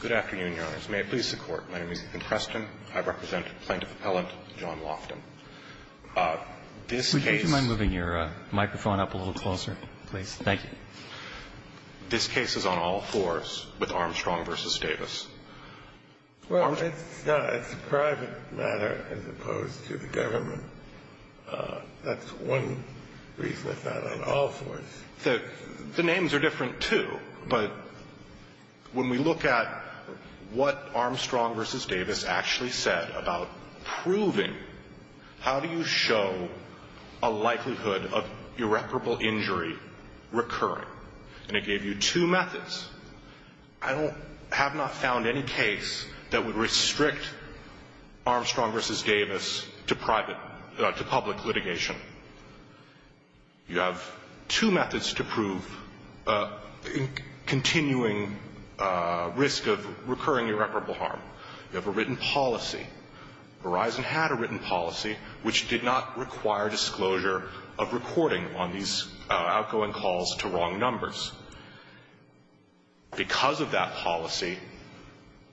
Good afternoon, Your Honors. May it please the Court, my name is Ethan Preston. I represent Plaintiff Appellant John Lofton. This case... Would you mind moving your microphone up a little closer, please? Thank you. This case is on all fours with Armstrong v. Davis. Well, it's a private matter as opposed to the government. That's one reason it's not on all fours. The names are different, too, but when we look at what Armstrong v. Davis actually said about proving... How do you show a likelihood of irreparable injury recurring? And it gave you two methods. I have not found any case that would restrict Armstrong v. Davis to public litigation. You have two methods to prove continuing risk of recurring irreparable harm. You have a written policy. Verizon had a written policy which did not require disclosure of recording on these outgoing calls to wrong numbers. Because of that policy,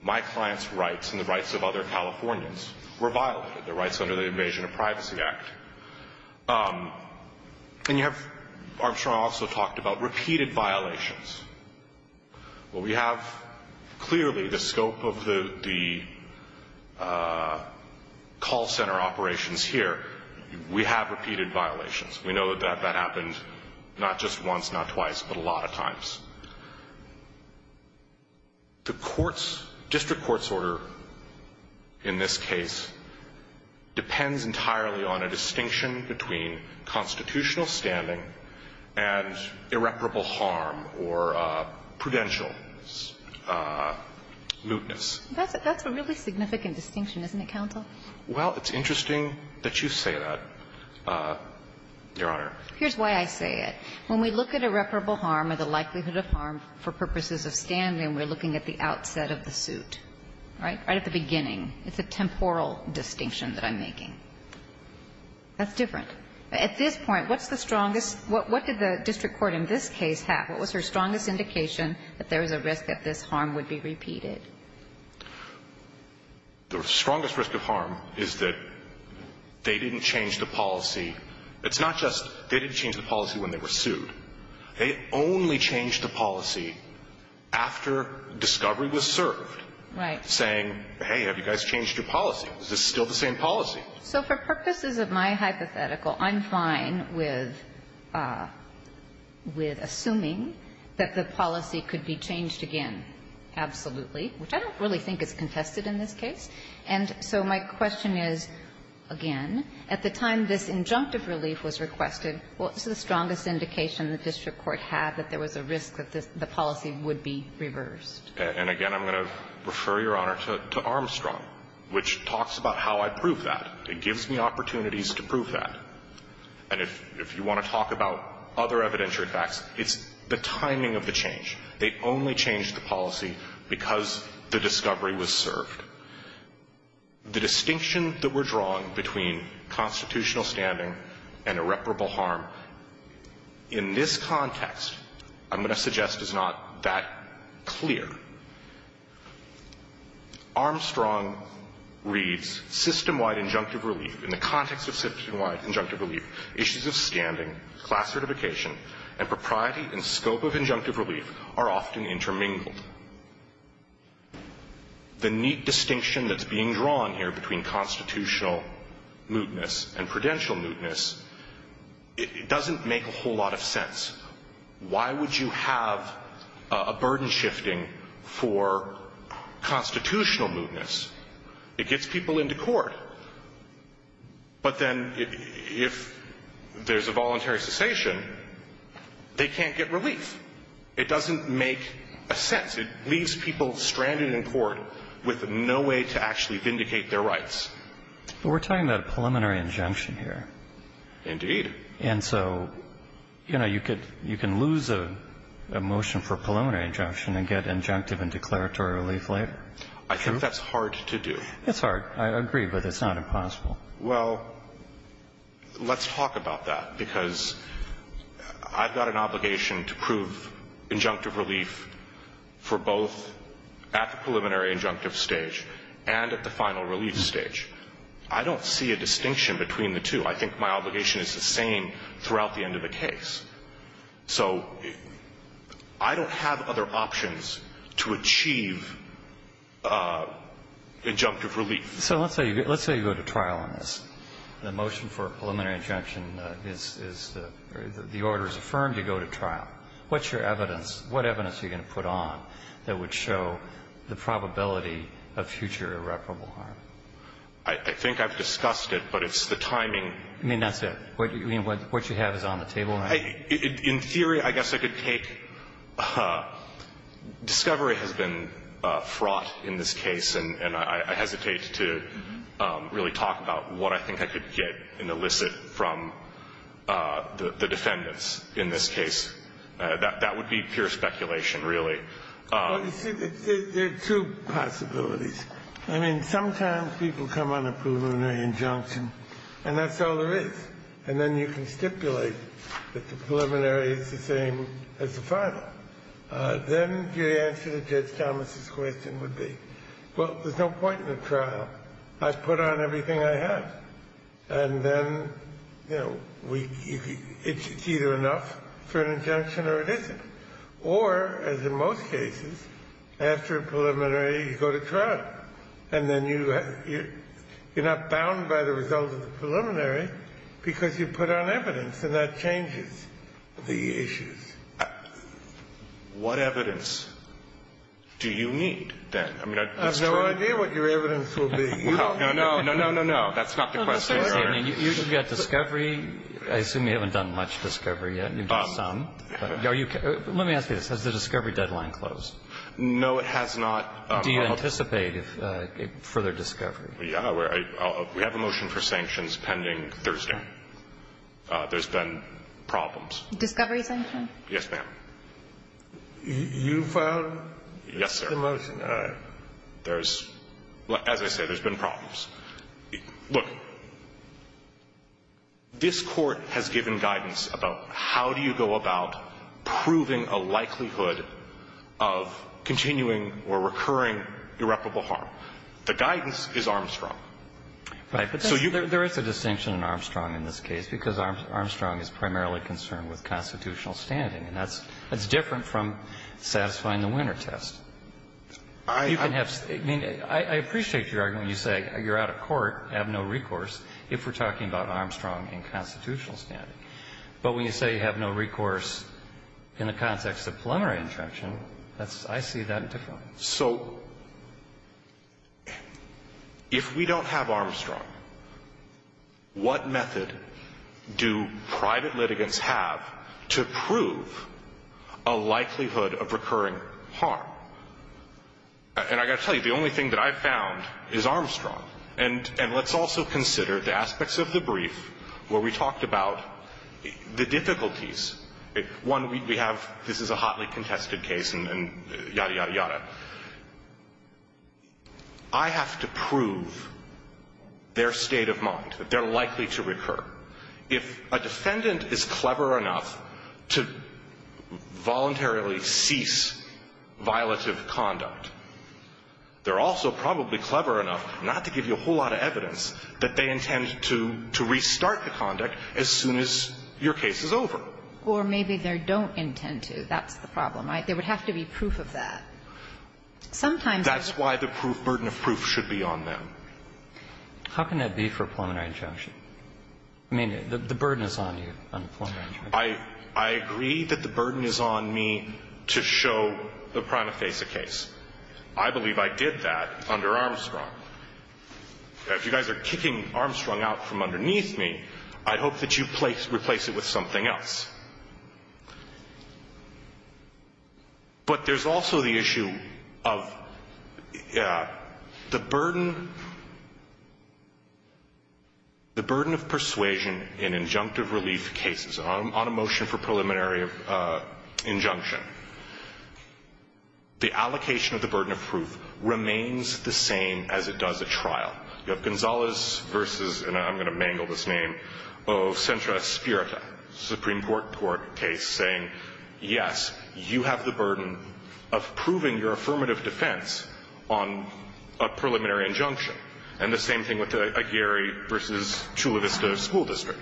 my client's rights and the rights of other Californians were violated, the rights under the Invasion of Privacy Act. And you have Armstrong also talked about repeated violations. Well, we have clearly the scope of the call center operations here. We have repeated violations. We know that that happened not just once, not twice, but a lot of times. The courts, district court's order in this case depends entirely on a distinction between constitutional standing and irreparable harm or prudential mootness. That's a really significant distinction, isn't it, counsel? Well, it's interesting that you say that, Your Honor. Here's why I say it. When we look at irreparable harm or the likelihood of harm for purposes of standing, we're looking at the outset of the suit, right? Right at the beginning. It's a temporal distinction that I'm making. That's different. At this point, what's the strongest? What did the district court in this case have? What was their strongest indication that there was a risk that this harm would be repeated? The strongest risk of harm is that they didn't change the policy. It's not just they didn't change the policy when they were sued. They only changed the policy after discovery was served. Right. Saying, hey, have you guys changed your policy? Is this still the same policy? So for purposes of my hypothetical, I'm fine with assuming that the policy could be changed again. Absolutely. Which I don't really think is contested in this case. And so my question is, again, at the time this injunctive relief was requested, what's the strongest indication the district court had that there was a risk that the policy would be reversed? And again, I'm going to refer, Your Honor, to Armstrong, which talks about how I proved that. It gives me opportunities to prove that. And if you want to talk about other evidentiary facts, it's the timing of the change. They only changed the policy because the discovery was served. The distinction that we're drawing between constitutional standing and irreparable harm in this context, I'm going to suggest, is not that clear. Armstrong reads, system-wide injunctive relief, in the context of system-wide injunctive relief, issues of standing, class certification, and propriety and scope of injunctive relief are often intermingled. The neat distinction that's being drawn here between constitutional mootness and prudential mootness, it doesn't make a whole lot of sense. Why would you have a burden shifting for constitutional mootness? It gets people into court. But then if there's a voluntary cessation, they can't get relief. It doesn't make a sense. It leaves people stranded in court with no way to actually vindicate their rights. But we're talking about a preliminary injunction here. Indeed. And so, you know, you could lose a motion for preliminary injunction and get injunctive and declaratory relief later. True. I think that's hard to do. It's hard. I agree, but it's not impossible. Well, let's talk about that, because I've got an obligation to prove injunctive relief for both at the preliminary injunctive stage and at the final relief stage. I don't see a distinction between the two. I think my obligation is the same throughout the end of the case. So I don't have other options to achieve injunctive relief. So let's say you go to trial on this. The motion for preliminary injunction is the order is affirmed. You go to trial. What's your evidence? What evidence are you going to put on that would show the probability of future irreparable harm? I think I've discussed it, but it's the timing. You mean that's it? You mean what you have is on the table now? In theory, I guess I could take discovery has been fraught in this case, and I hesitate to really talk about what I think I could get and elicit from the defendants in this case. That would be pure speculation, really. Well, you see, there are two possibilities. I mean, sometimes people come on a preliminary injunction, and that's all there is, and then you can stipulate that the preliminary is the same as the final. Then your answer to Judge Thomas's question would be, well, there's no point in going to trial. I've put on everything I have. And then, you know, it's either enough for an injunction or it isn't. Or, as in most cases, after a preliminary, you go to trial. And then you're not bound by the results of the preliminary because you put on evidence, and that changes the issues. What evidence do you need then? I have no idea what your evidence will be. No, no, no, no, no, no. That's not the question, Your Honor. You've got discovery. I assume you haven't done much discovery yet. You've done some. Let me ask you this. Has the discovery deadline closed? No, it has not. Do you anticipate further discovery? Yeah. We have a motion for sanctions pending Thursday. There's been problems. Discovery sanction? Yes, ma'am. You filed the motion? There's, as I said, there's been problems. Look, this Court has given guidance about how do you go about proving a likelihood of continuing or recurring irreparable harm. The guidance is Armstrong. Right. But there is a distinction in Armstrong in this case because Armstrong is primarily concerned with constitutional standing. And that's different from satisfying the winner test. I appreciate your argument when you say you're out of court, have no recourse, if we're talking about Armstrong in constitutional standing. But when you say you have no recourse in the context of preliminary injunction, I see that differently. So if we don't have Armstrong, what method do private litigants have to prove a likelihood of recurring harm? And I've got to tell you, the only thing that I've found is Armstrong. And let's also consider the aspects of the brief where we talked about the difficulties. One, we have this is a hotly contested case and yada, yada, yada. I have to prove their state of mind, that they're likely to recur. If a defendant is clever enough to voluntarily cease violative conduct, they're also probably clever enough not to give you a whole lot of evidence that they intend to restart the conduct as soon as your case is over. Or maybe they don't intend to. That's the problem, right? There would have to be proof of that. Sometimes there's... That's why the burden of proof should be on them. How can that be for a preliminary injunction? I mean, the burden is on you on a preliminary injunction. I agree that the burden is on me to show the prima facie case. I believe I did that under Armstrong. If you guys are kicking Armstrong out from underneath me, I hope that you replace it with something else. But there's also the issue of the burden of persuasion in injunctive relief cases, on a motion for preliminary injunction. The allocation of the burden of proof remains the same as it does at trial. You have Gonzalez versus, and I'm going to mangle this name, of Centra Spirita, Supreme Court case, saying, yes, you have the burden of proving your affirmative defense on a preliminary injunction. And the same thing with Aguirre versus Chula Vista School District.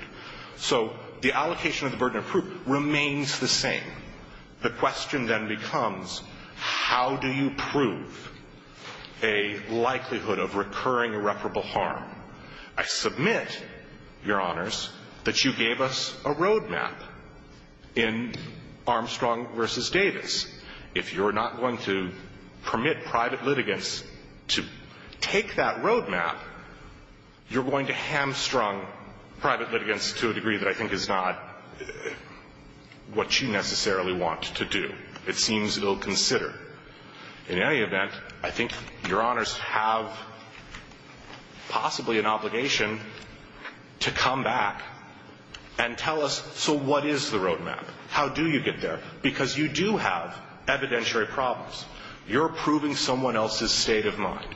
So the allocation of the burden of proof remains the same. The question then becomes, how do you prove a likelihood of recurring irreparable harm? I submit, Your Honors, that you gave us a roadmap in Armstrong versus Davis. If you're not going to permit private litigants to take that roadmap, you're going to hamstrung private litigants to a degree that I think is not what you necessarily want to do. It seems ill-considered. In any event, I think Your Honors have possibly an obligation to come back and tell us, so what is the roadmap? How do you get there? Because you do have evidentiary problems. You're proving someone else's state of mind.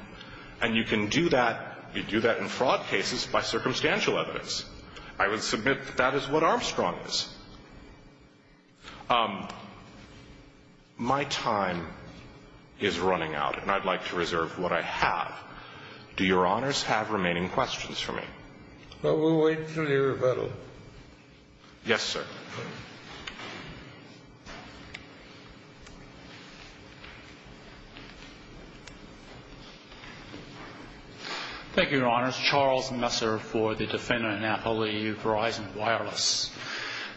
And you can do that. You do that in fraud cases by circumstantial evidence. I would submit that that is what Armstrong is. My time is running out, and I'd like to reserve what I have. Do Your Honors have remaining questions for me? Well, we'll wait for your rebuttal. Yes, sir. Thank you, Your Honors. Charles Messer for the defendant in Appalachia, Verizon Wireless.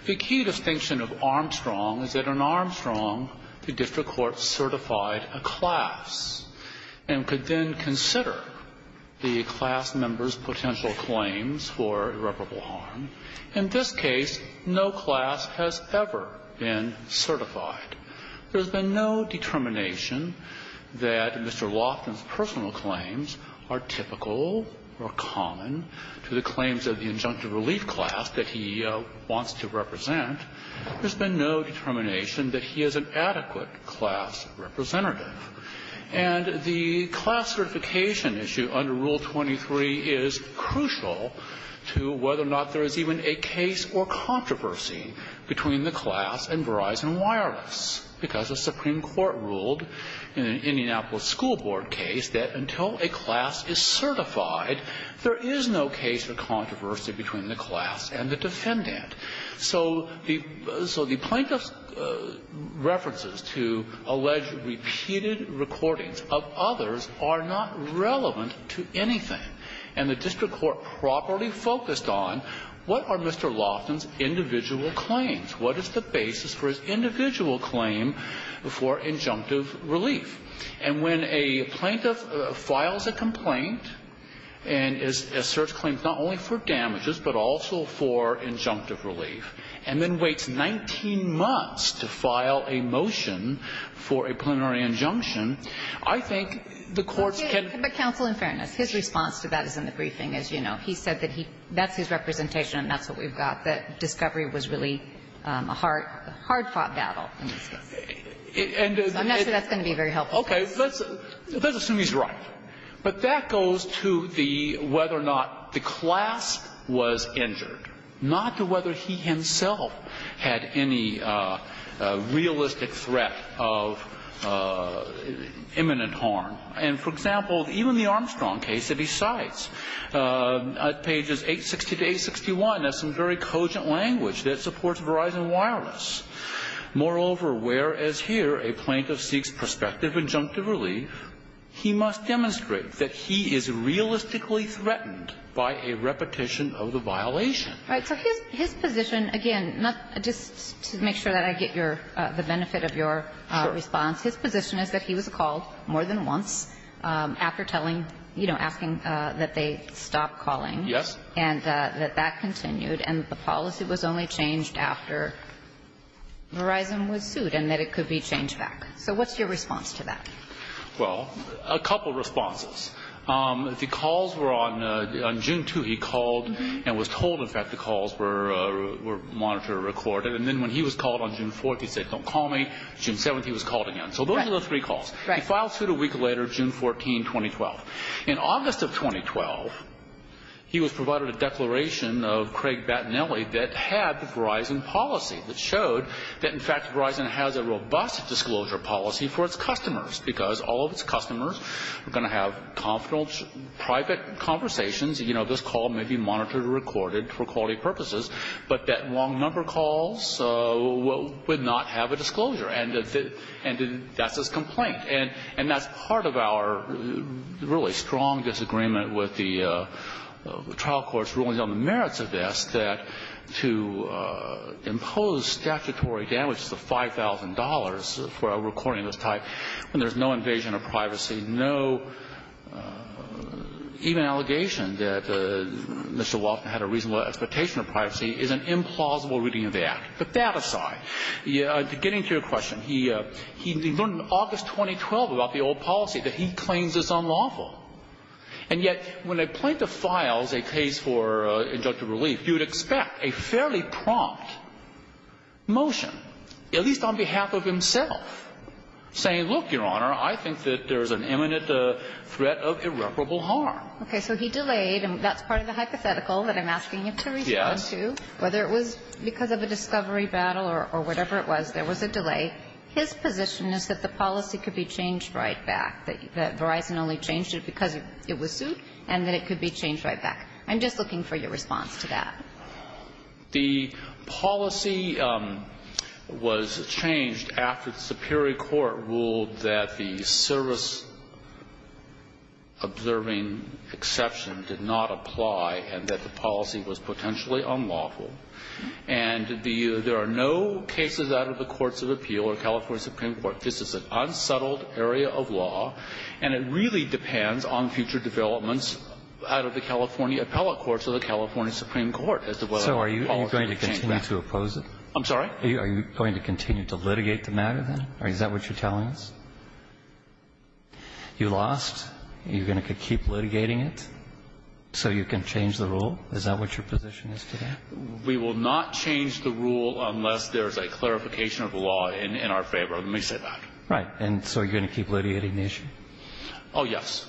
The key distinction of Armstrong is that in Armstrong, the district court certified a class and could then consider the class member's potential claims for irreparable harm. In this case, no class has ever been certified. There's been no determination that Mr. Loftin's personal claims are typical or common to the claims of the injunctive relief class that he wants to represent. There's been no determination that he is an adequate class representative. And the class certification issue under Rule 23 is crucial to whether or not there is even a case or controversy between the class and Verizon Wireless, because the Supreme Court ruled in an Indianapolis school board case that until a class is certified, there is no case or controversy between the class and the defendant. So the plaintiff's references to alleged repeated recordings of others are not relevant to anything. And the district court properly focused on, what are Mr. Loftin's individual claims? What is the basis for his individual claim for injunctive relief? And when a plaintiff files a complaint and asserts claims not only for damages but also for injunctive relief, and then waits 19 months to file a motion for a plenary injunction, I think the courts can ---- But counsel, in fairness, his response to that is in the briefing, as you know. He said that he ---- that's his representation and that's what we've got, that discovery was really a hard-fought battle in this case. So I'm not sure that's going to be very helpful. Okay. Let's assume he's right. But that goes to the whether or not the class was injured, not to whether he himself had any realistic threat of imminent harm. And, for example, even the Armstrong case that he cites, pages 860 to 861, has some very cogent language that supports Verizon Wireless. Moreover, whereas here a plaintiff seeks prospective injunctive relief, he must demonstrate that he is realistically threatened by a repetition of the violation. Right. So his position, again, just to make sure that I get your ---- the benefit of your response. Sure. His position is that he was called more than once after telling, you know, asking that they stop calling. Yes. And that that continued and the policy was only changed after Verizon was sued and that it could be changed back. So what's your response to that? Well, a couple responses. The calls were on June 2 he called and was told, in fact, the calls were monitored or recorded. And then when he was called on June 4, he said, don't call me. June 7, he was called again. So those are those three calls. Right. He filed suit a week later, June 14, 2012. In August of 2012, he was provided a declaration of Craig Battinelli that had the Verizon policy that showed that, in fact, Verizon has a robust disclosure policy for its customers because all of its customers are going to have confidential private conversations. You know, this call may be monitored or recorded for quality purposes, but that long number calls would not have a disclosure. And that's his complaint. And that's part of our really strong disagreement with the trial courts ruling on the merits of this, that to impose statutory damages of $5,000 for a recording of this type when there's no invasion of privacy, no even allegation that Mr. Battinelli is a criminal, that's a plausible reading of the Act. But that aside, getting to your question, he learned in August 2012 about the old policy that he claims is unlawful. And yet, when a plaintiff files a case for injunctive relief, you would expect a fairly prompt motion, at least on behalf of himself, saying, look, Your Honor, I think that there's an imminent threat of irreparable harm. Okay. So he delayed, and that's part of the hypothetical that I'm asking you to respond to, whether it was because of a discovery battle or whatever it was, there was a delay. His position is that the policy could be changed right back, that Verizon only changed it because it was sued, and that it could be changed right back. I'm just looking for your response to that. The policy was changed after the Superior Court ruled that the service-observing exception did not apply and that the policy was potentially unlawful. And there are no cases out of the Courts of Appeal or California Supreme Court. This is an unsettled area of law, and it really depends on future developments out of the California appellate courts or the California Supreme Court as to whether the policy was changed back. So are you going to continue to oppose it? I'm sorry? Are you going to continue to litigate the matter, then? Is that what you're telling us? You lost. Are you going to keep litigating it so you can change the rule? Is that what your position is today? We will not change the rule unless there's a clarification of the law in our favor of it. Let me say that. And so are you going to keep litigating the issue? Oh, yes.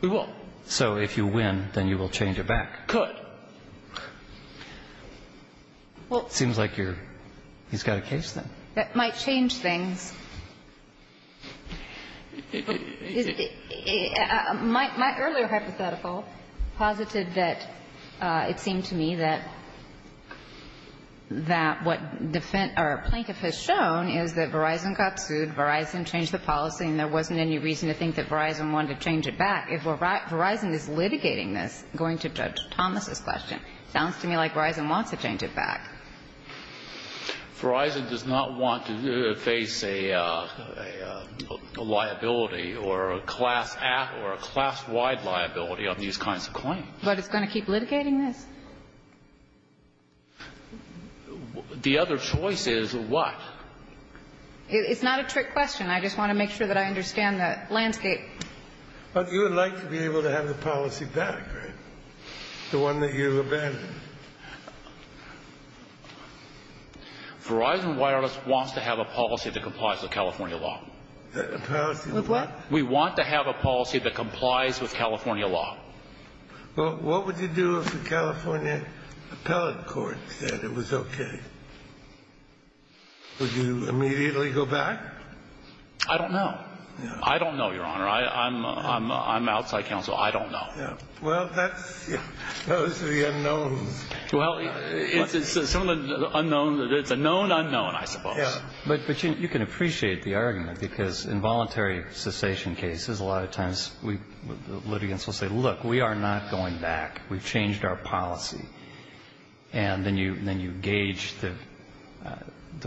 We will. So if you win, then you will change it back? Could. Well, it seems like you're – he's got a case, then. That might change things. My earlier hypothetical posited that it seemed to me that what defense or a plaintiff has shown is that Verizon got sued, Verizon changed the policy, and there wasn't any reason to think that Verizon wanted to change it back. If Verizon is litigating this, going to Judge Thomas's question, it sounds to me like Verizon wants to change it back. Verizon does not want to face a liability or a class-at or a class-wide liability on these kinds of claims. But it's going to keep litigating this? The other choice is what? It's not a trick question. I just want to make sure that I understand the landscape. But you would like to be able to have the policy back, right? The one that you abandoned? Verizon Wireless wants to have a policy that complies with California law. A policy of what? We want to have a policy that complies with California law. Well, what would you do if the California appellate court said it was okay? Would you immediately go back? I don't know. I don't know, Your Honor. I'm outside counsel. I don't know. Well, that's the unknown. Well, it's a known unknown, I suppose. But you can appreciate the argument, because in voluntary cessation cases, a lot of times litigants will say, look, we are not going back. We've changed our policy. And then you gauge the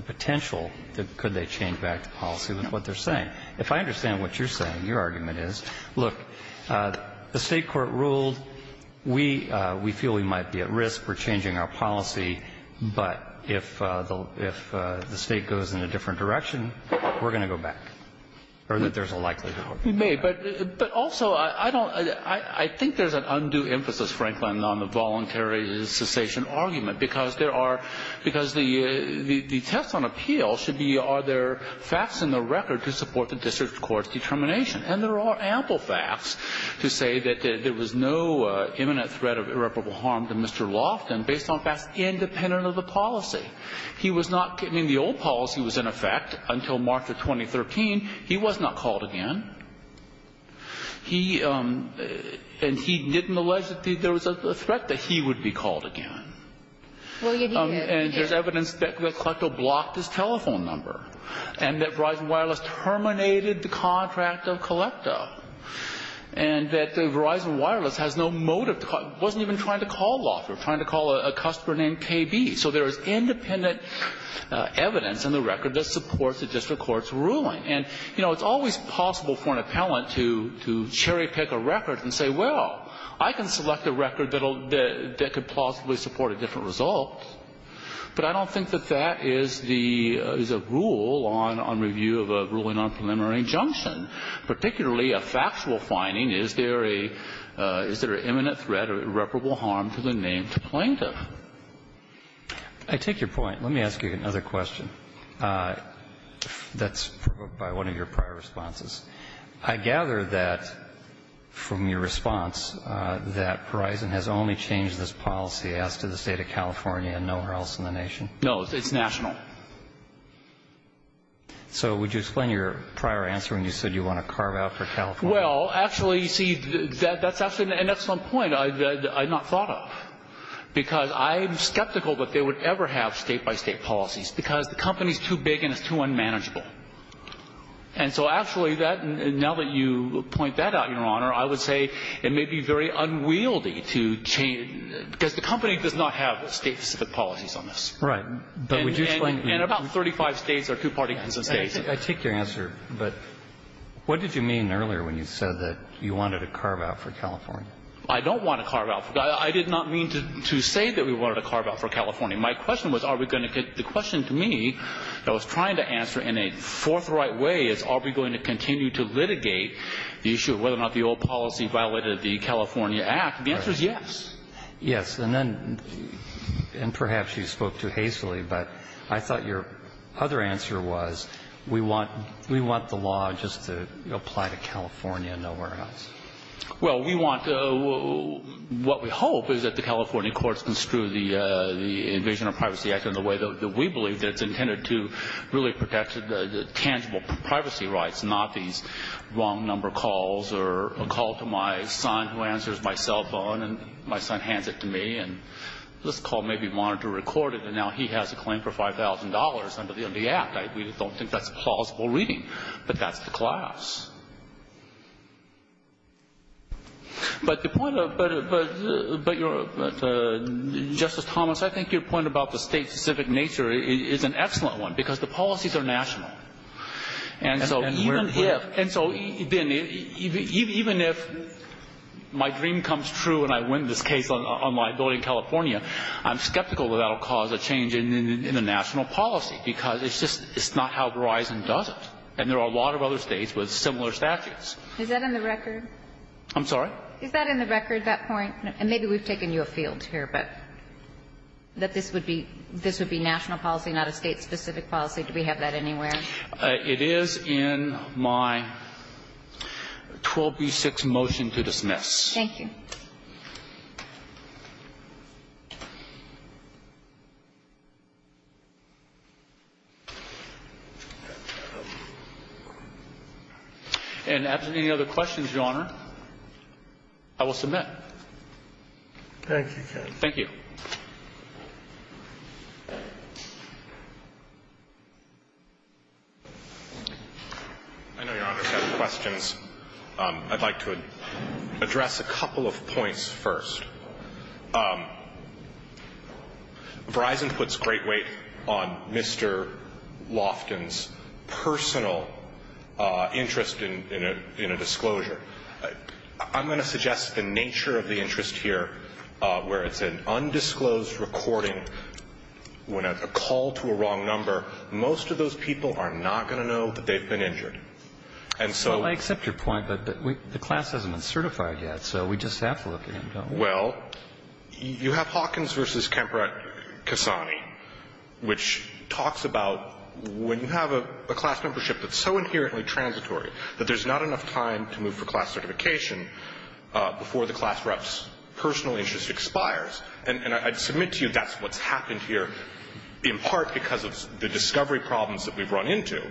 potential. Could they change back the policy with what they're saying? If I understand what you're saying, your argument is, look, the state court ruled we feel we might be at risk. We're changing our policy. But if the state goes in a different direction, we're going to go back, or that there's a likelihood. We may. But also, I think there's an undue emphasis, Franklin, on the voluntary cessation argument, because the test on appeal should be, are there facts in the record to support the district court's determination. And there are ample facts to say that there was no imminent threat of irreparable harm to Mr. Loftin, based on facts independent of the policy. The old policy was in effect until March of 2013. He was not called again. He didn't allege that there was a threat that he would be called again. And there's evidence that Colecto blocked his telephone number and that Verizon Wireless terminated the contract of Colecto and that Verizon Wireless has no motive to call. It wasn't even trying to call Loftin. It was trying to call a customer named KB. So there is independent evidence in the record that supports the district court's ruling. And, you know, it's always possible for an appellant to cherry pick a record and say, well, I can select a record that could possibly support a different result. But I don't think that that is the rule on review of a ruling on preliminary injunction. Particularly a factual finding, is there a imminent threat of irreparable harm to the named plaintiff? I take your point. Let me ask you another question. That's provoked by one of your prior responses. I gather that from your response that Verizon has only changed this policy as to the state of California and nowhere else in the nation. No, it's national. So would you explain your prior answer when you said you want to carve out for California? Well, actually, you see, that's actually an excellent point I had not thought of. Because I'm skeptical that they would ever have state-by-state policies because the company is too big and it's too unmanageable. And so actually, now that you point that out, Your Honor, I would say it may be very unwieldy to change because the company does not have state-specific policies on this. Right. And about 35 states are two-party states. I take your answer, but what did you mean earlier when you said that you wanted to carve out for California? I don't want to carve out. I did not mean to say that we wanted to carve out for California. My question was are we going to get the question to me that I was trying to answer in a forthright way is are we going to continue to litigate the issue of whether or not the old policy violated the California Act. The answer is yes. Yes. And then perhaps you spoke too hastily, but I thought your other answer was we want the law just to apply to California and nowhere else. Well, we want to – what we hope is that the California courts construe the Invasion of Privacy Act in the way that we believe that it's intended to really protect the tangible privacy rights, not these wrong number calls or a call to my son who answers my cell phone and my son hands it to me and this call may be monitored or recorded and now he has a claim for $5,000 under the act. We don't think that's plausible reading, but that's the class. But the point of – but Justice Thomas, I think your point about the state-specific nature is an excellent one because the policies are national. And so even if – and so even if my dream comes true and I win this case on liability in California, I'm skeptical that that will cause a change in the national policy because it's just – it's not how Verizon does it. And there are a lot of other states with similar statutes. Is that in the record? I'm sorry? Is that in the record, that point? And maybe we've taken you afield here, but that this would be – this would be national policy, not a state-specific policy. Do we have that anywhere? It is in my 12B6 motion to dismiss. Thank you. And absent any other questions, Your Honor, I will submit. Thank you, counsel. Thank you. I know, Your Honor, if you have questions, I'd like to address a couple of questions. A couple of points first. Verizon puts great weight on Mr. Loftin's personal interest in a disclosure. I'm going to suggest the nature of the interest here, where it's an undisclosed recording. When a call to a wrong number, most of those people are not going to know that they've been injured. Well, I accept your point, but the class hasn't been certified yet, so we just have to look at him, don't we? Well, you have Hawkins v. Kemper Kasani, which talks about when you have a class membership that's so inherently transitory that there's not enough time to move for class certification before the class rep's personal interest expires. And I submit to you that's what's happened here, in part because of the discovery problems that we've run into.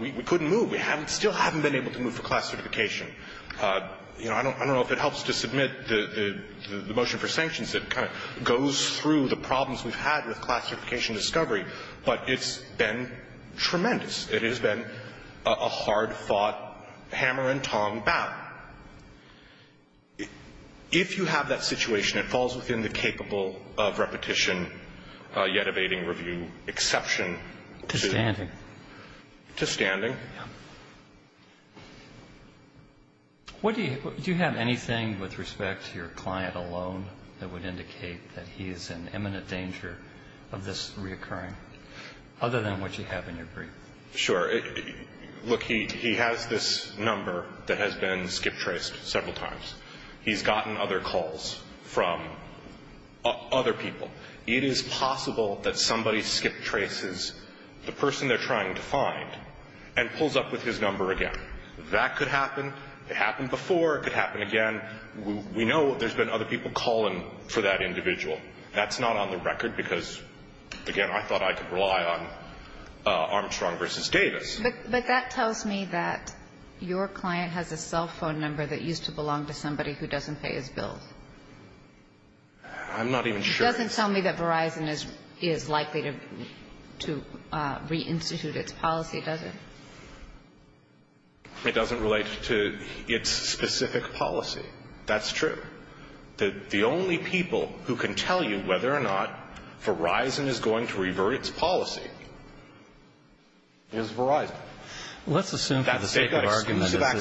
We couldn't move. We still haven't been able to move for class certification. I don't know if it helps to submit the motion for sanctions that kind of goes through the problems we've had with class certification discovery, but it's been tremendous. It has been a hard-fought hammer-and-tongue battle. If you have that situation, it falls within the capable-of-repetition-yet-evading-review exception. To standing. To standing. Yeah. Do you have anything with respect to your client alone that would indicate that he is in imminent danger of this reoccurring, other than what you have in your brief? Sure. Look, he has this number that has been skip-traced several times. He's gotten other calls from other people. It is possible that somebody skip-traces the person they're trying to find and pulls up with his number again. That could happen. It happened before. It could happen again. We know there's been other people calling for that individual. That's not on the record because, again, I thought I could rely on Armstrong versus Davis. But that tells me that your client has a cell phone number that used to belong to somebody who doesn't pay his bills. I'm not even sure. It doesn't tell me that Verizon is likely to reinstitute its policy, does it? It doesn't relate to its specific policy. That's true. The only people who can tell you whether or not Verizon is going to revert its policy is Verizon. Let's assume for the sake of argument that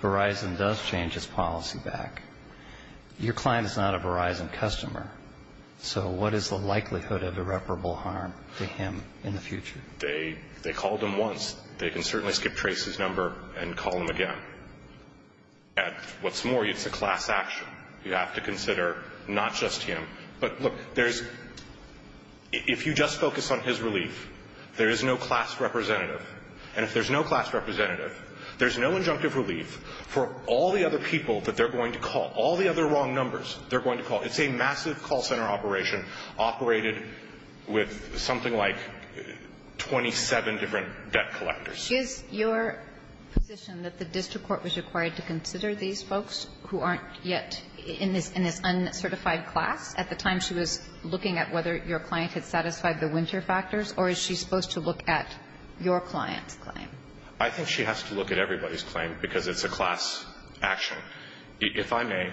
Verizon does change its policy back. Your client is not a Verizon customer, so what is the likelihood of irreparable harm to him in the future? They called him once. They can certainly skip-trace his number and call him again. What's more, it's a class action. You have to consider not just him. But, look, if you just focus on his relief, there is no class representative. And if there's no class representative, there's no injunctive relief for all the other people that they're going to call, all the other wrong numbers they're going to call. It's a massive call center operation operated with something like 27 different debt collectors. Is your position that the district court was required to consider these folks who aren't yet in this uncertified class? At the time, she was looking at whether your client had satisfied the winter factors, or is she supposed to look at your client's claim? I think she has to look at everybody's claim because it's a class action. If I may,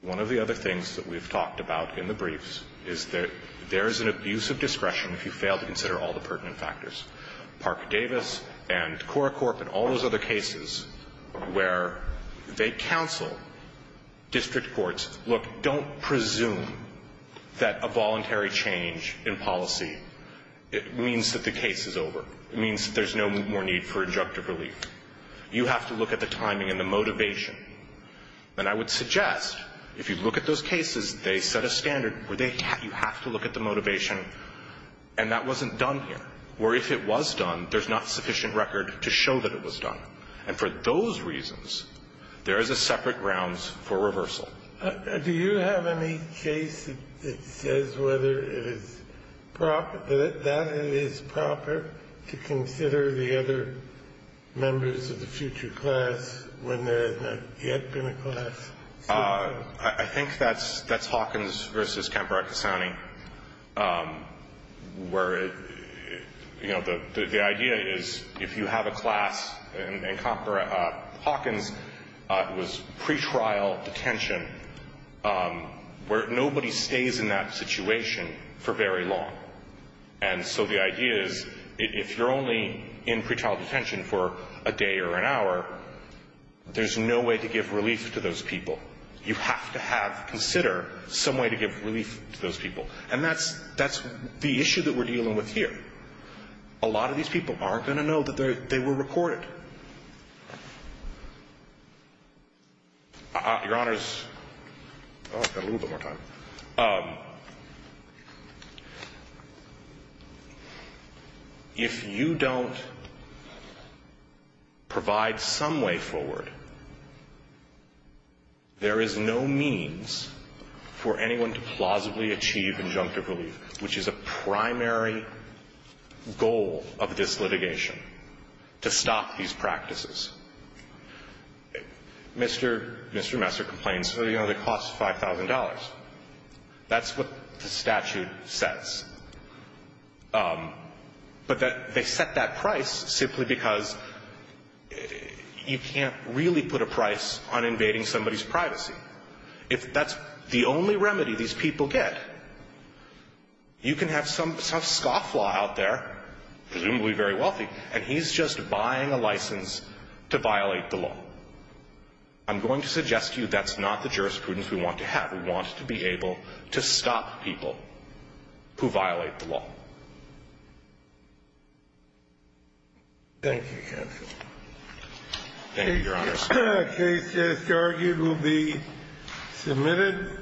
one of the other things that we've talked about in the briefs is that there is an abuse of discretion if you fail to consider all the pertinent factors. Parker Davis and Cora Corp and all those other cases where they counsel district courts, look, don't presume that a voluntary change in policy means that the case is over. It means that there's no more need for injunctive relief. You have to look at the timing and the motivation. And I would suggest if you look at those cases, they set a standard where you have to look at the motivation, and that wasn't done here, or if it was done, there's not sufficient record to show that it was done. And for those reasons, there is a separate grounds for reversal. Do you have any case that says whether it is proper, that it is proper to consider the other members of the future class when there has not yet been a class? I think that's Hawkins versus Kambarakisani, where, you know, the idea is if you have a class, and Hawkins was pretrial detention where nobody stays in that situation for very long. And so the idea is if you're only in pretrial detention for a day or an hour, there's no way to give relief to those people. You have to have, consider some way to give relief to those people. And that's the issue that we're dealing with here. A lot of these people aren't going to know that they were recorded. Your Honors, oh, I've got a little bit more time. If you don't provide some way forward, there is no means for anyone to plausibly achieve injunctive relief, which is a primary goal of this litigation, to stop these people from going to jail. And if you don't provide some way forward, there is no means for anyone to plausibly achieve injunctive relief, And if you don't provide some way forward, there is no means for anyone to plausibly achieve injunctive relief, to violate the law. I'm going to suggest to you that's not the jurisprudence we want to have. We want to be able to stop people who violate the law. Thank you, Counselor. Thank you, Your Honors. The case as argued will be submitted.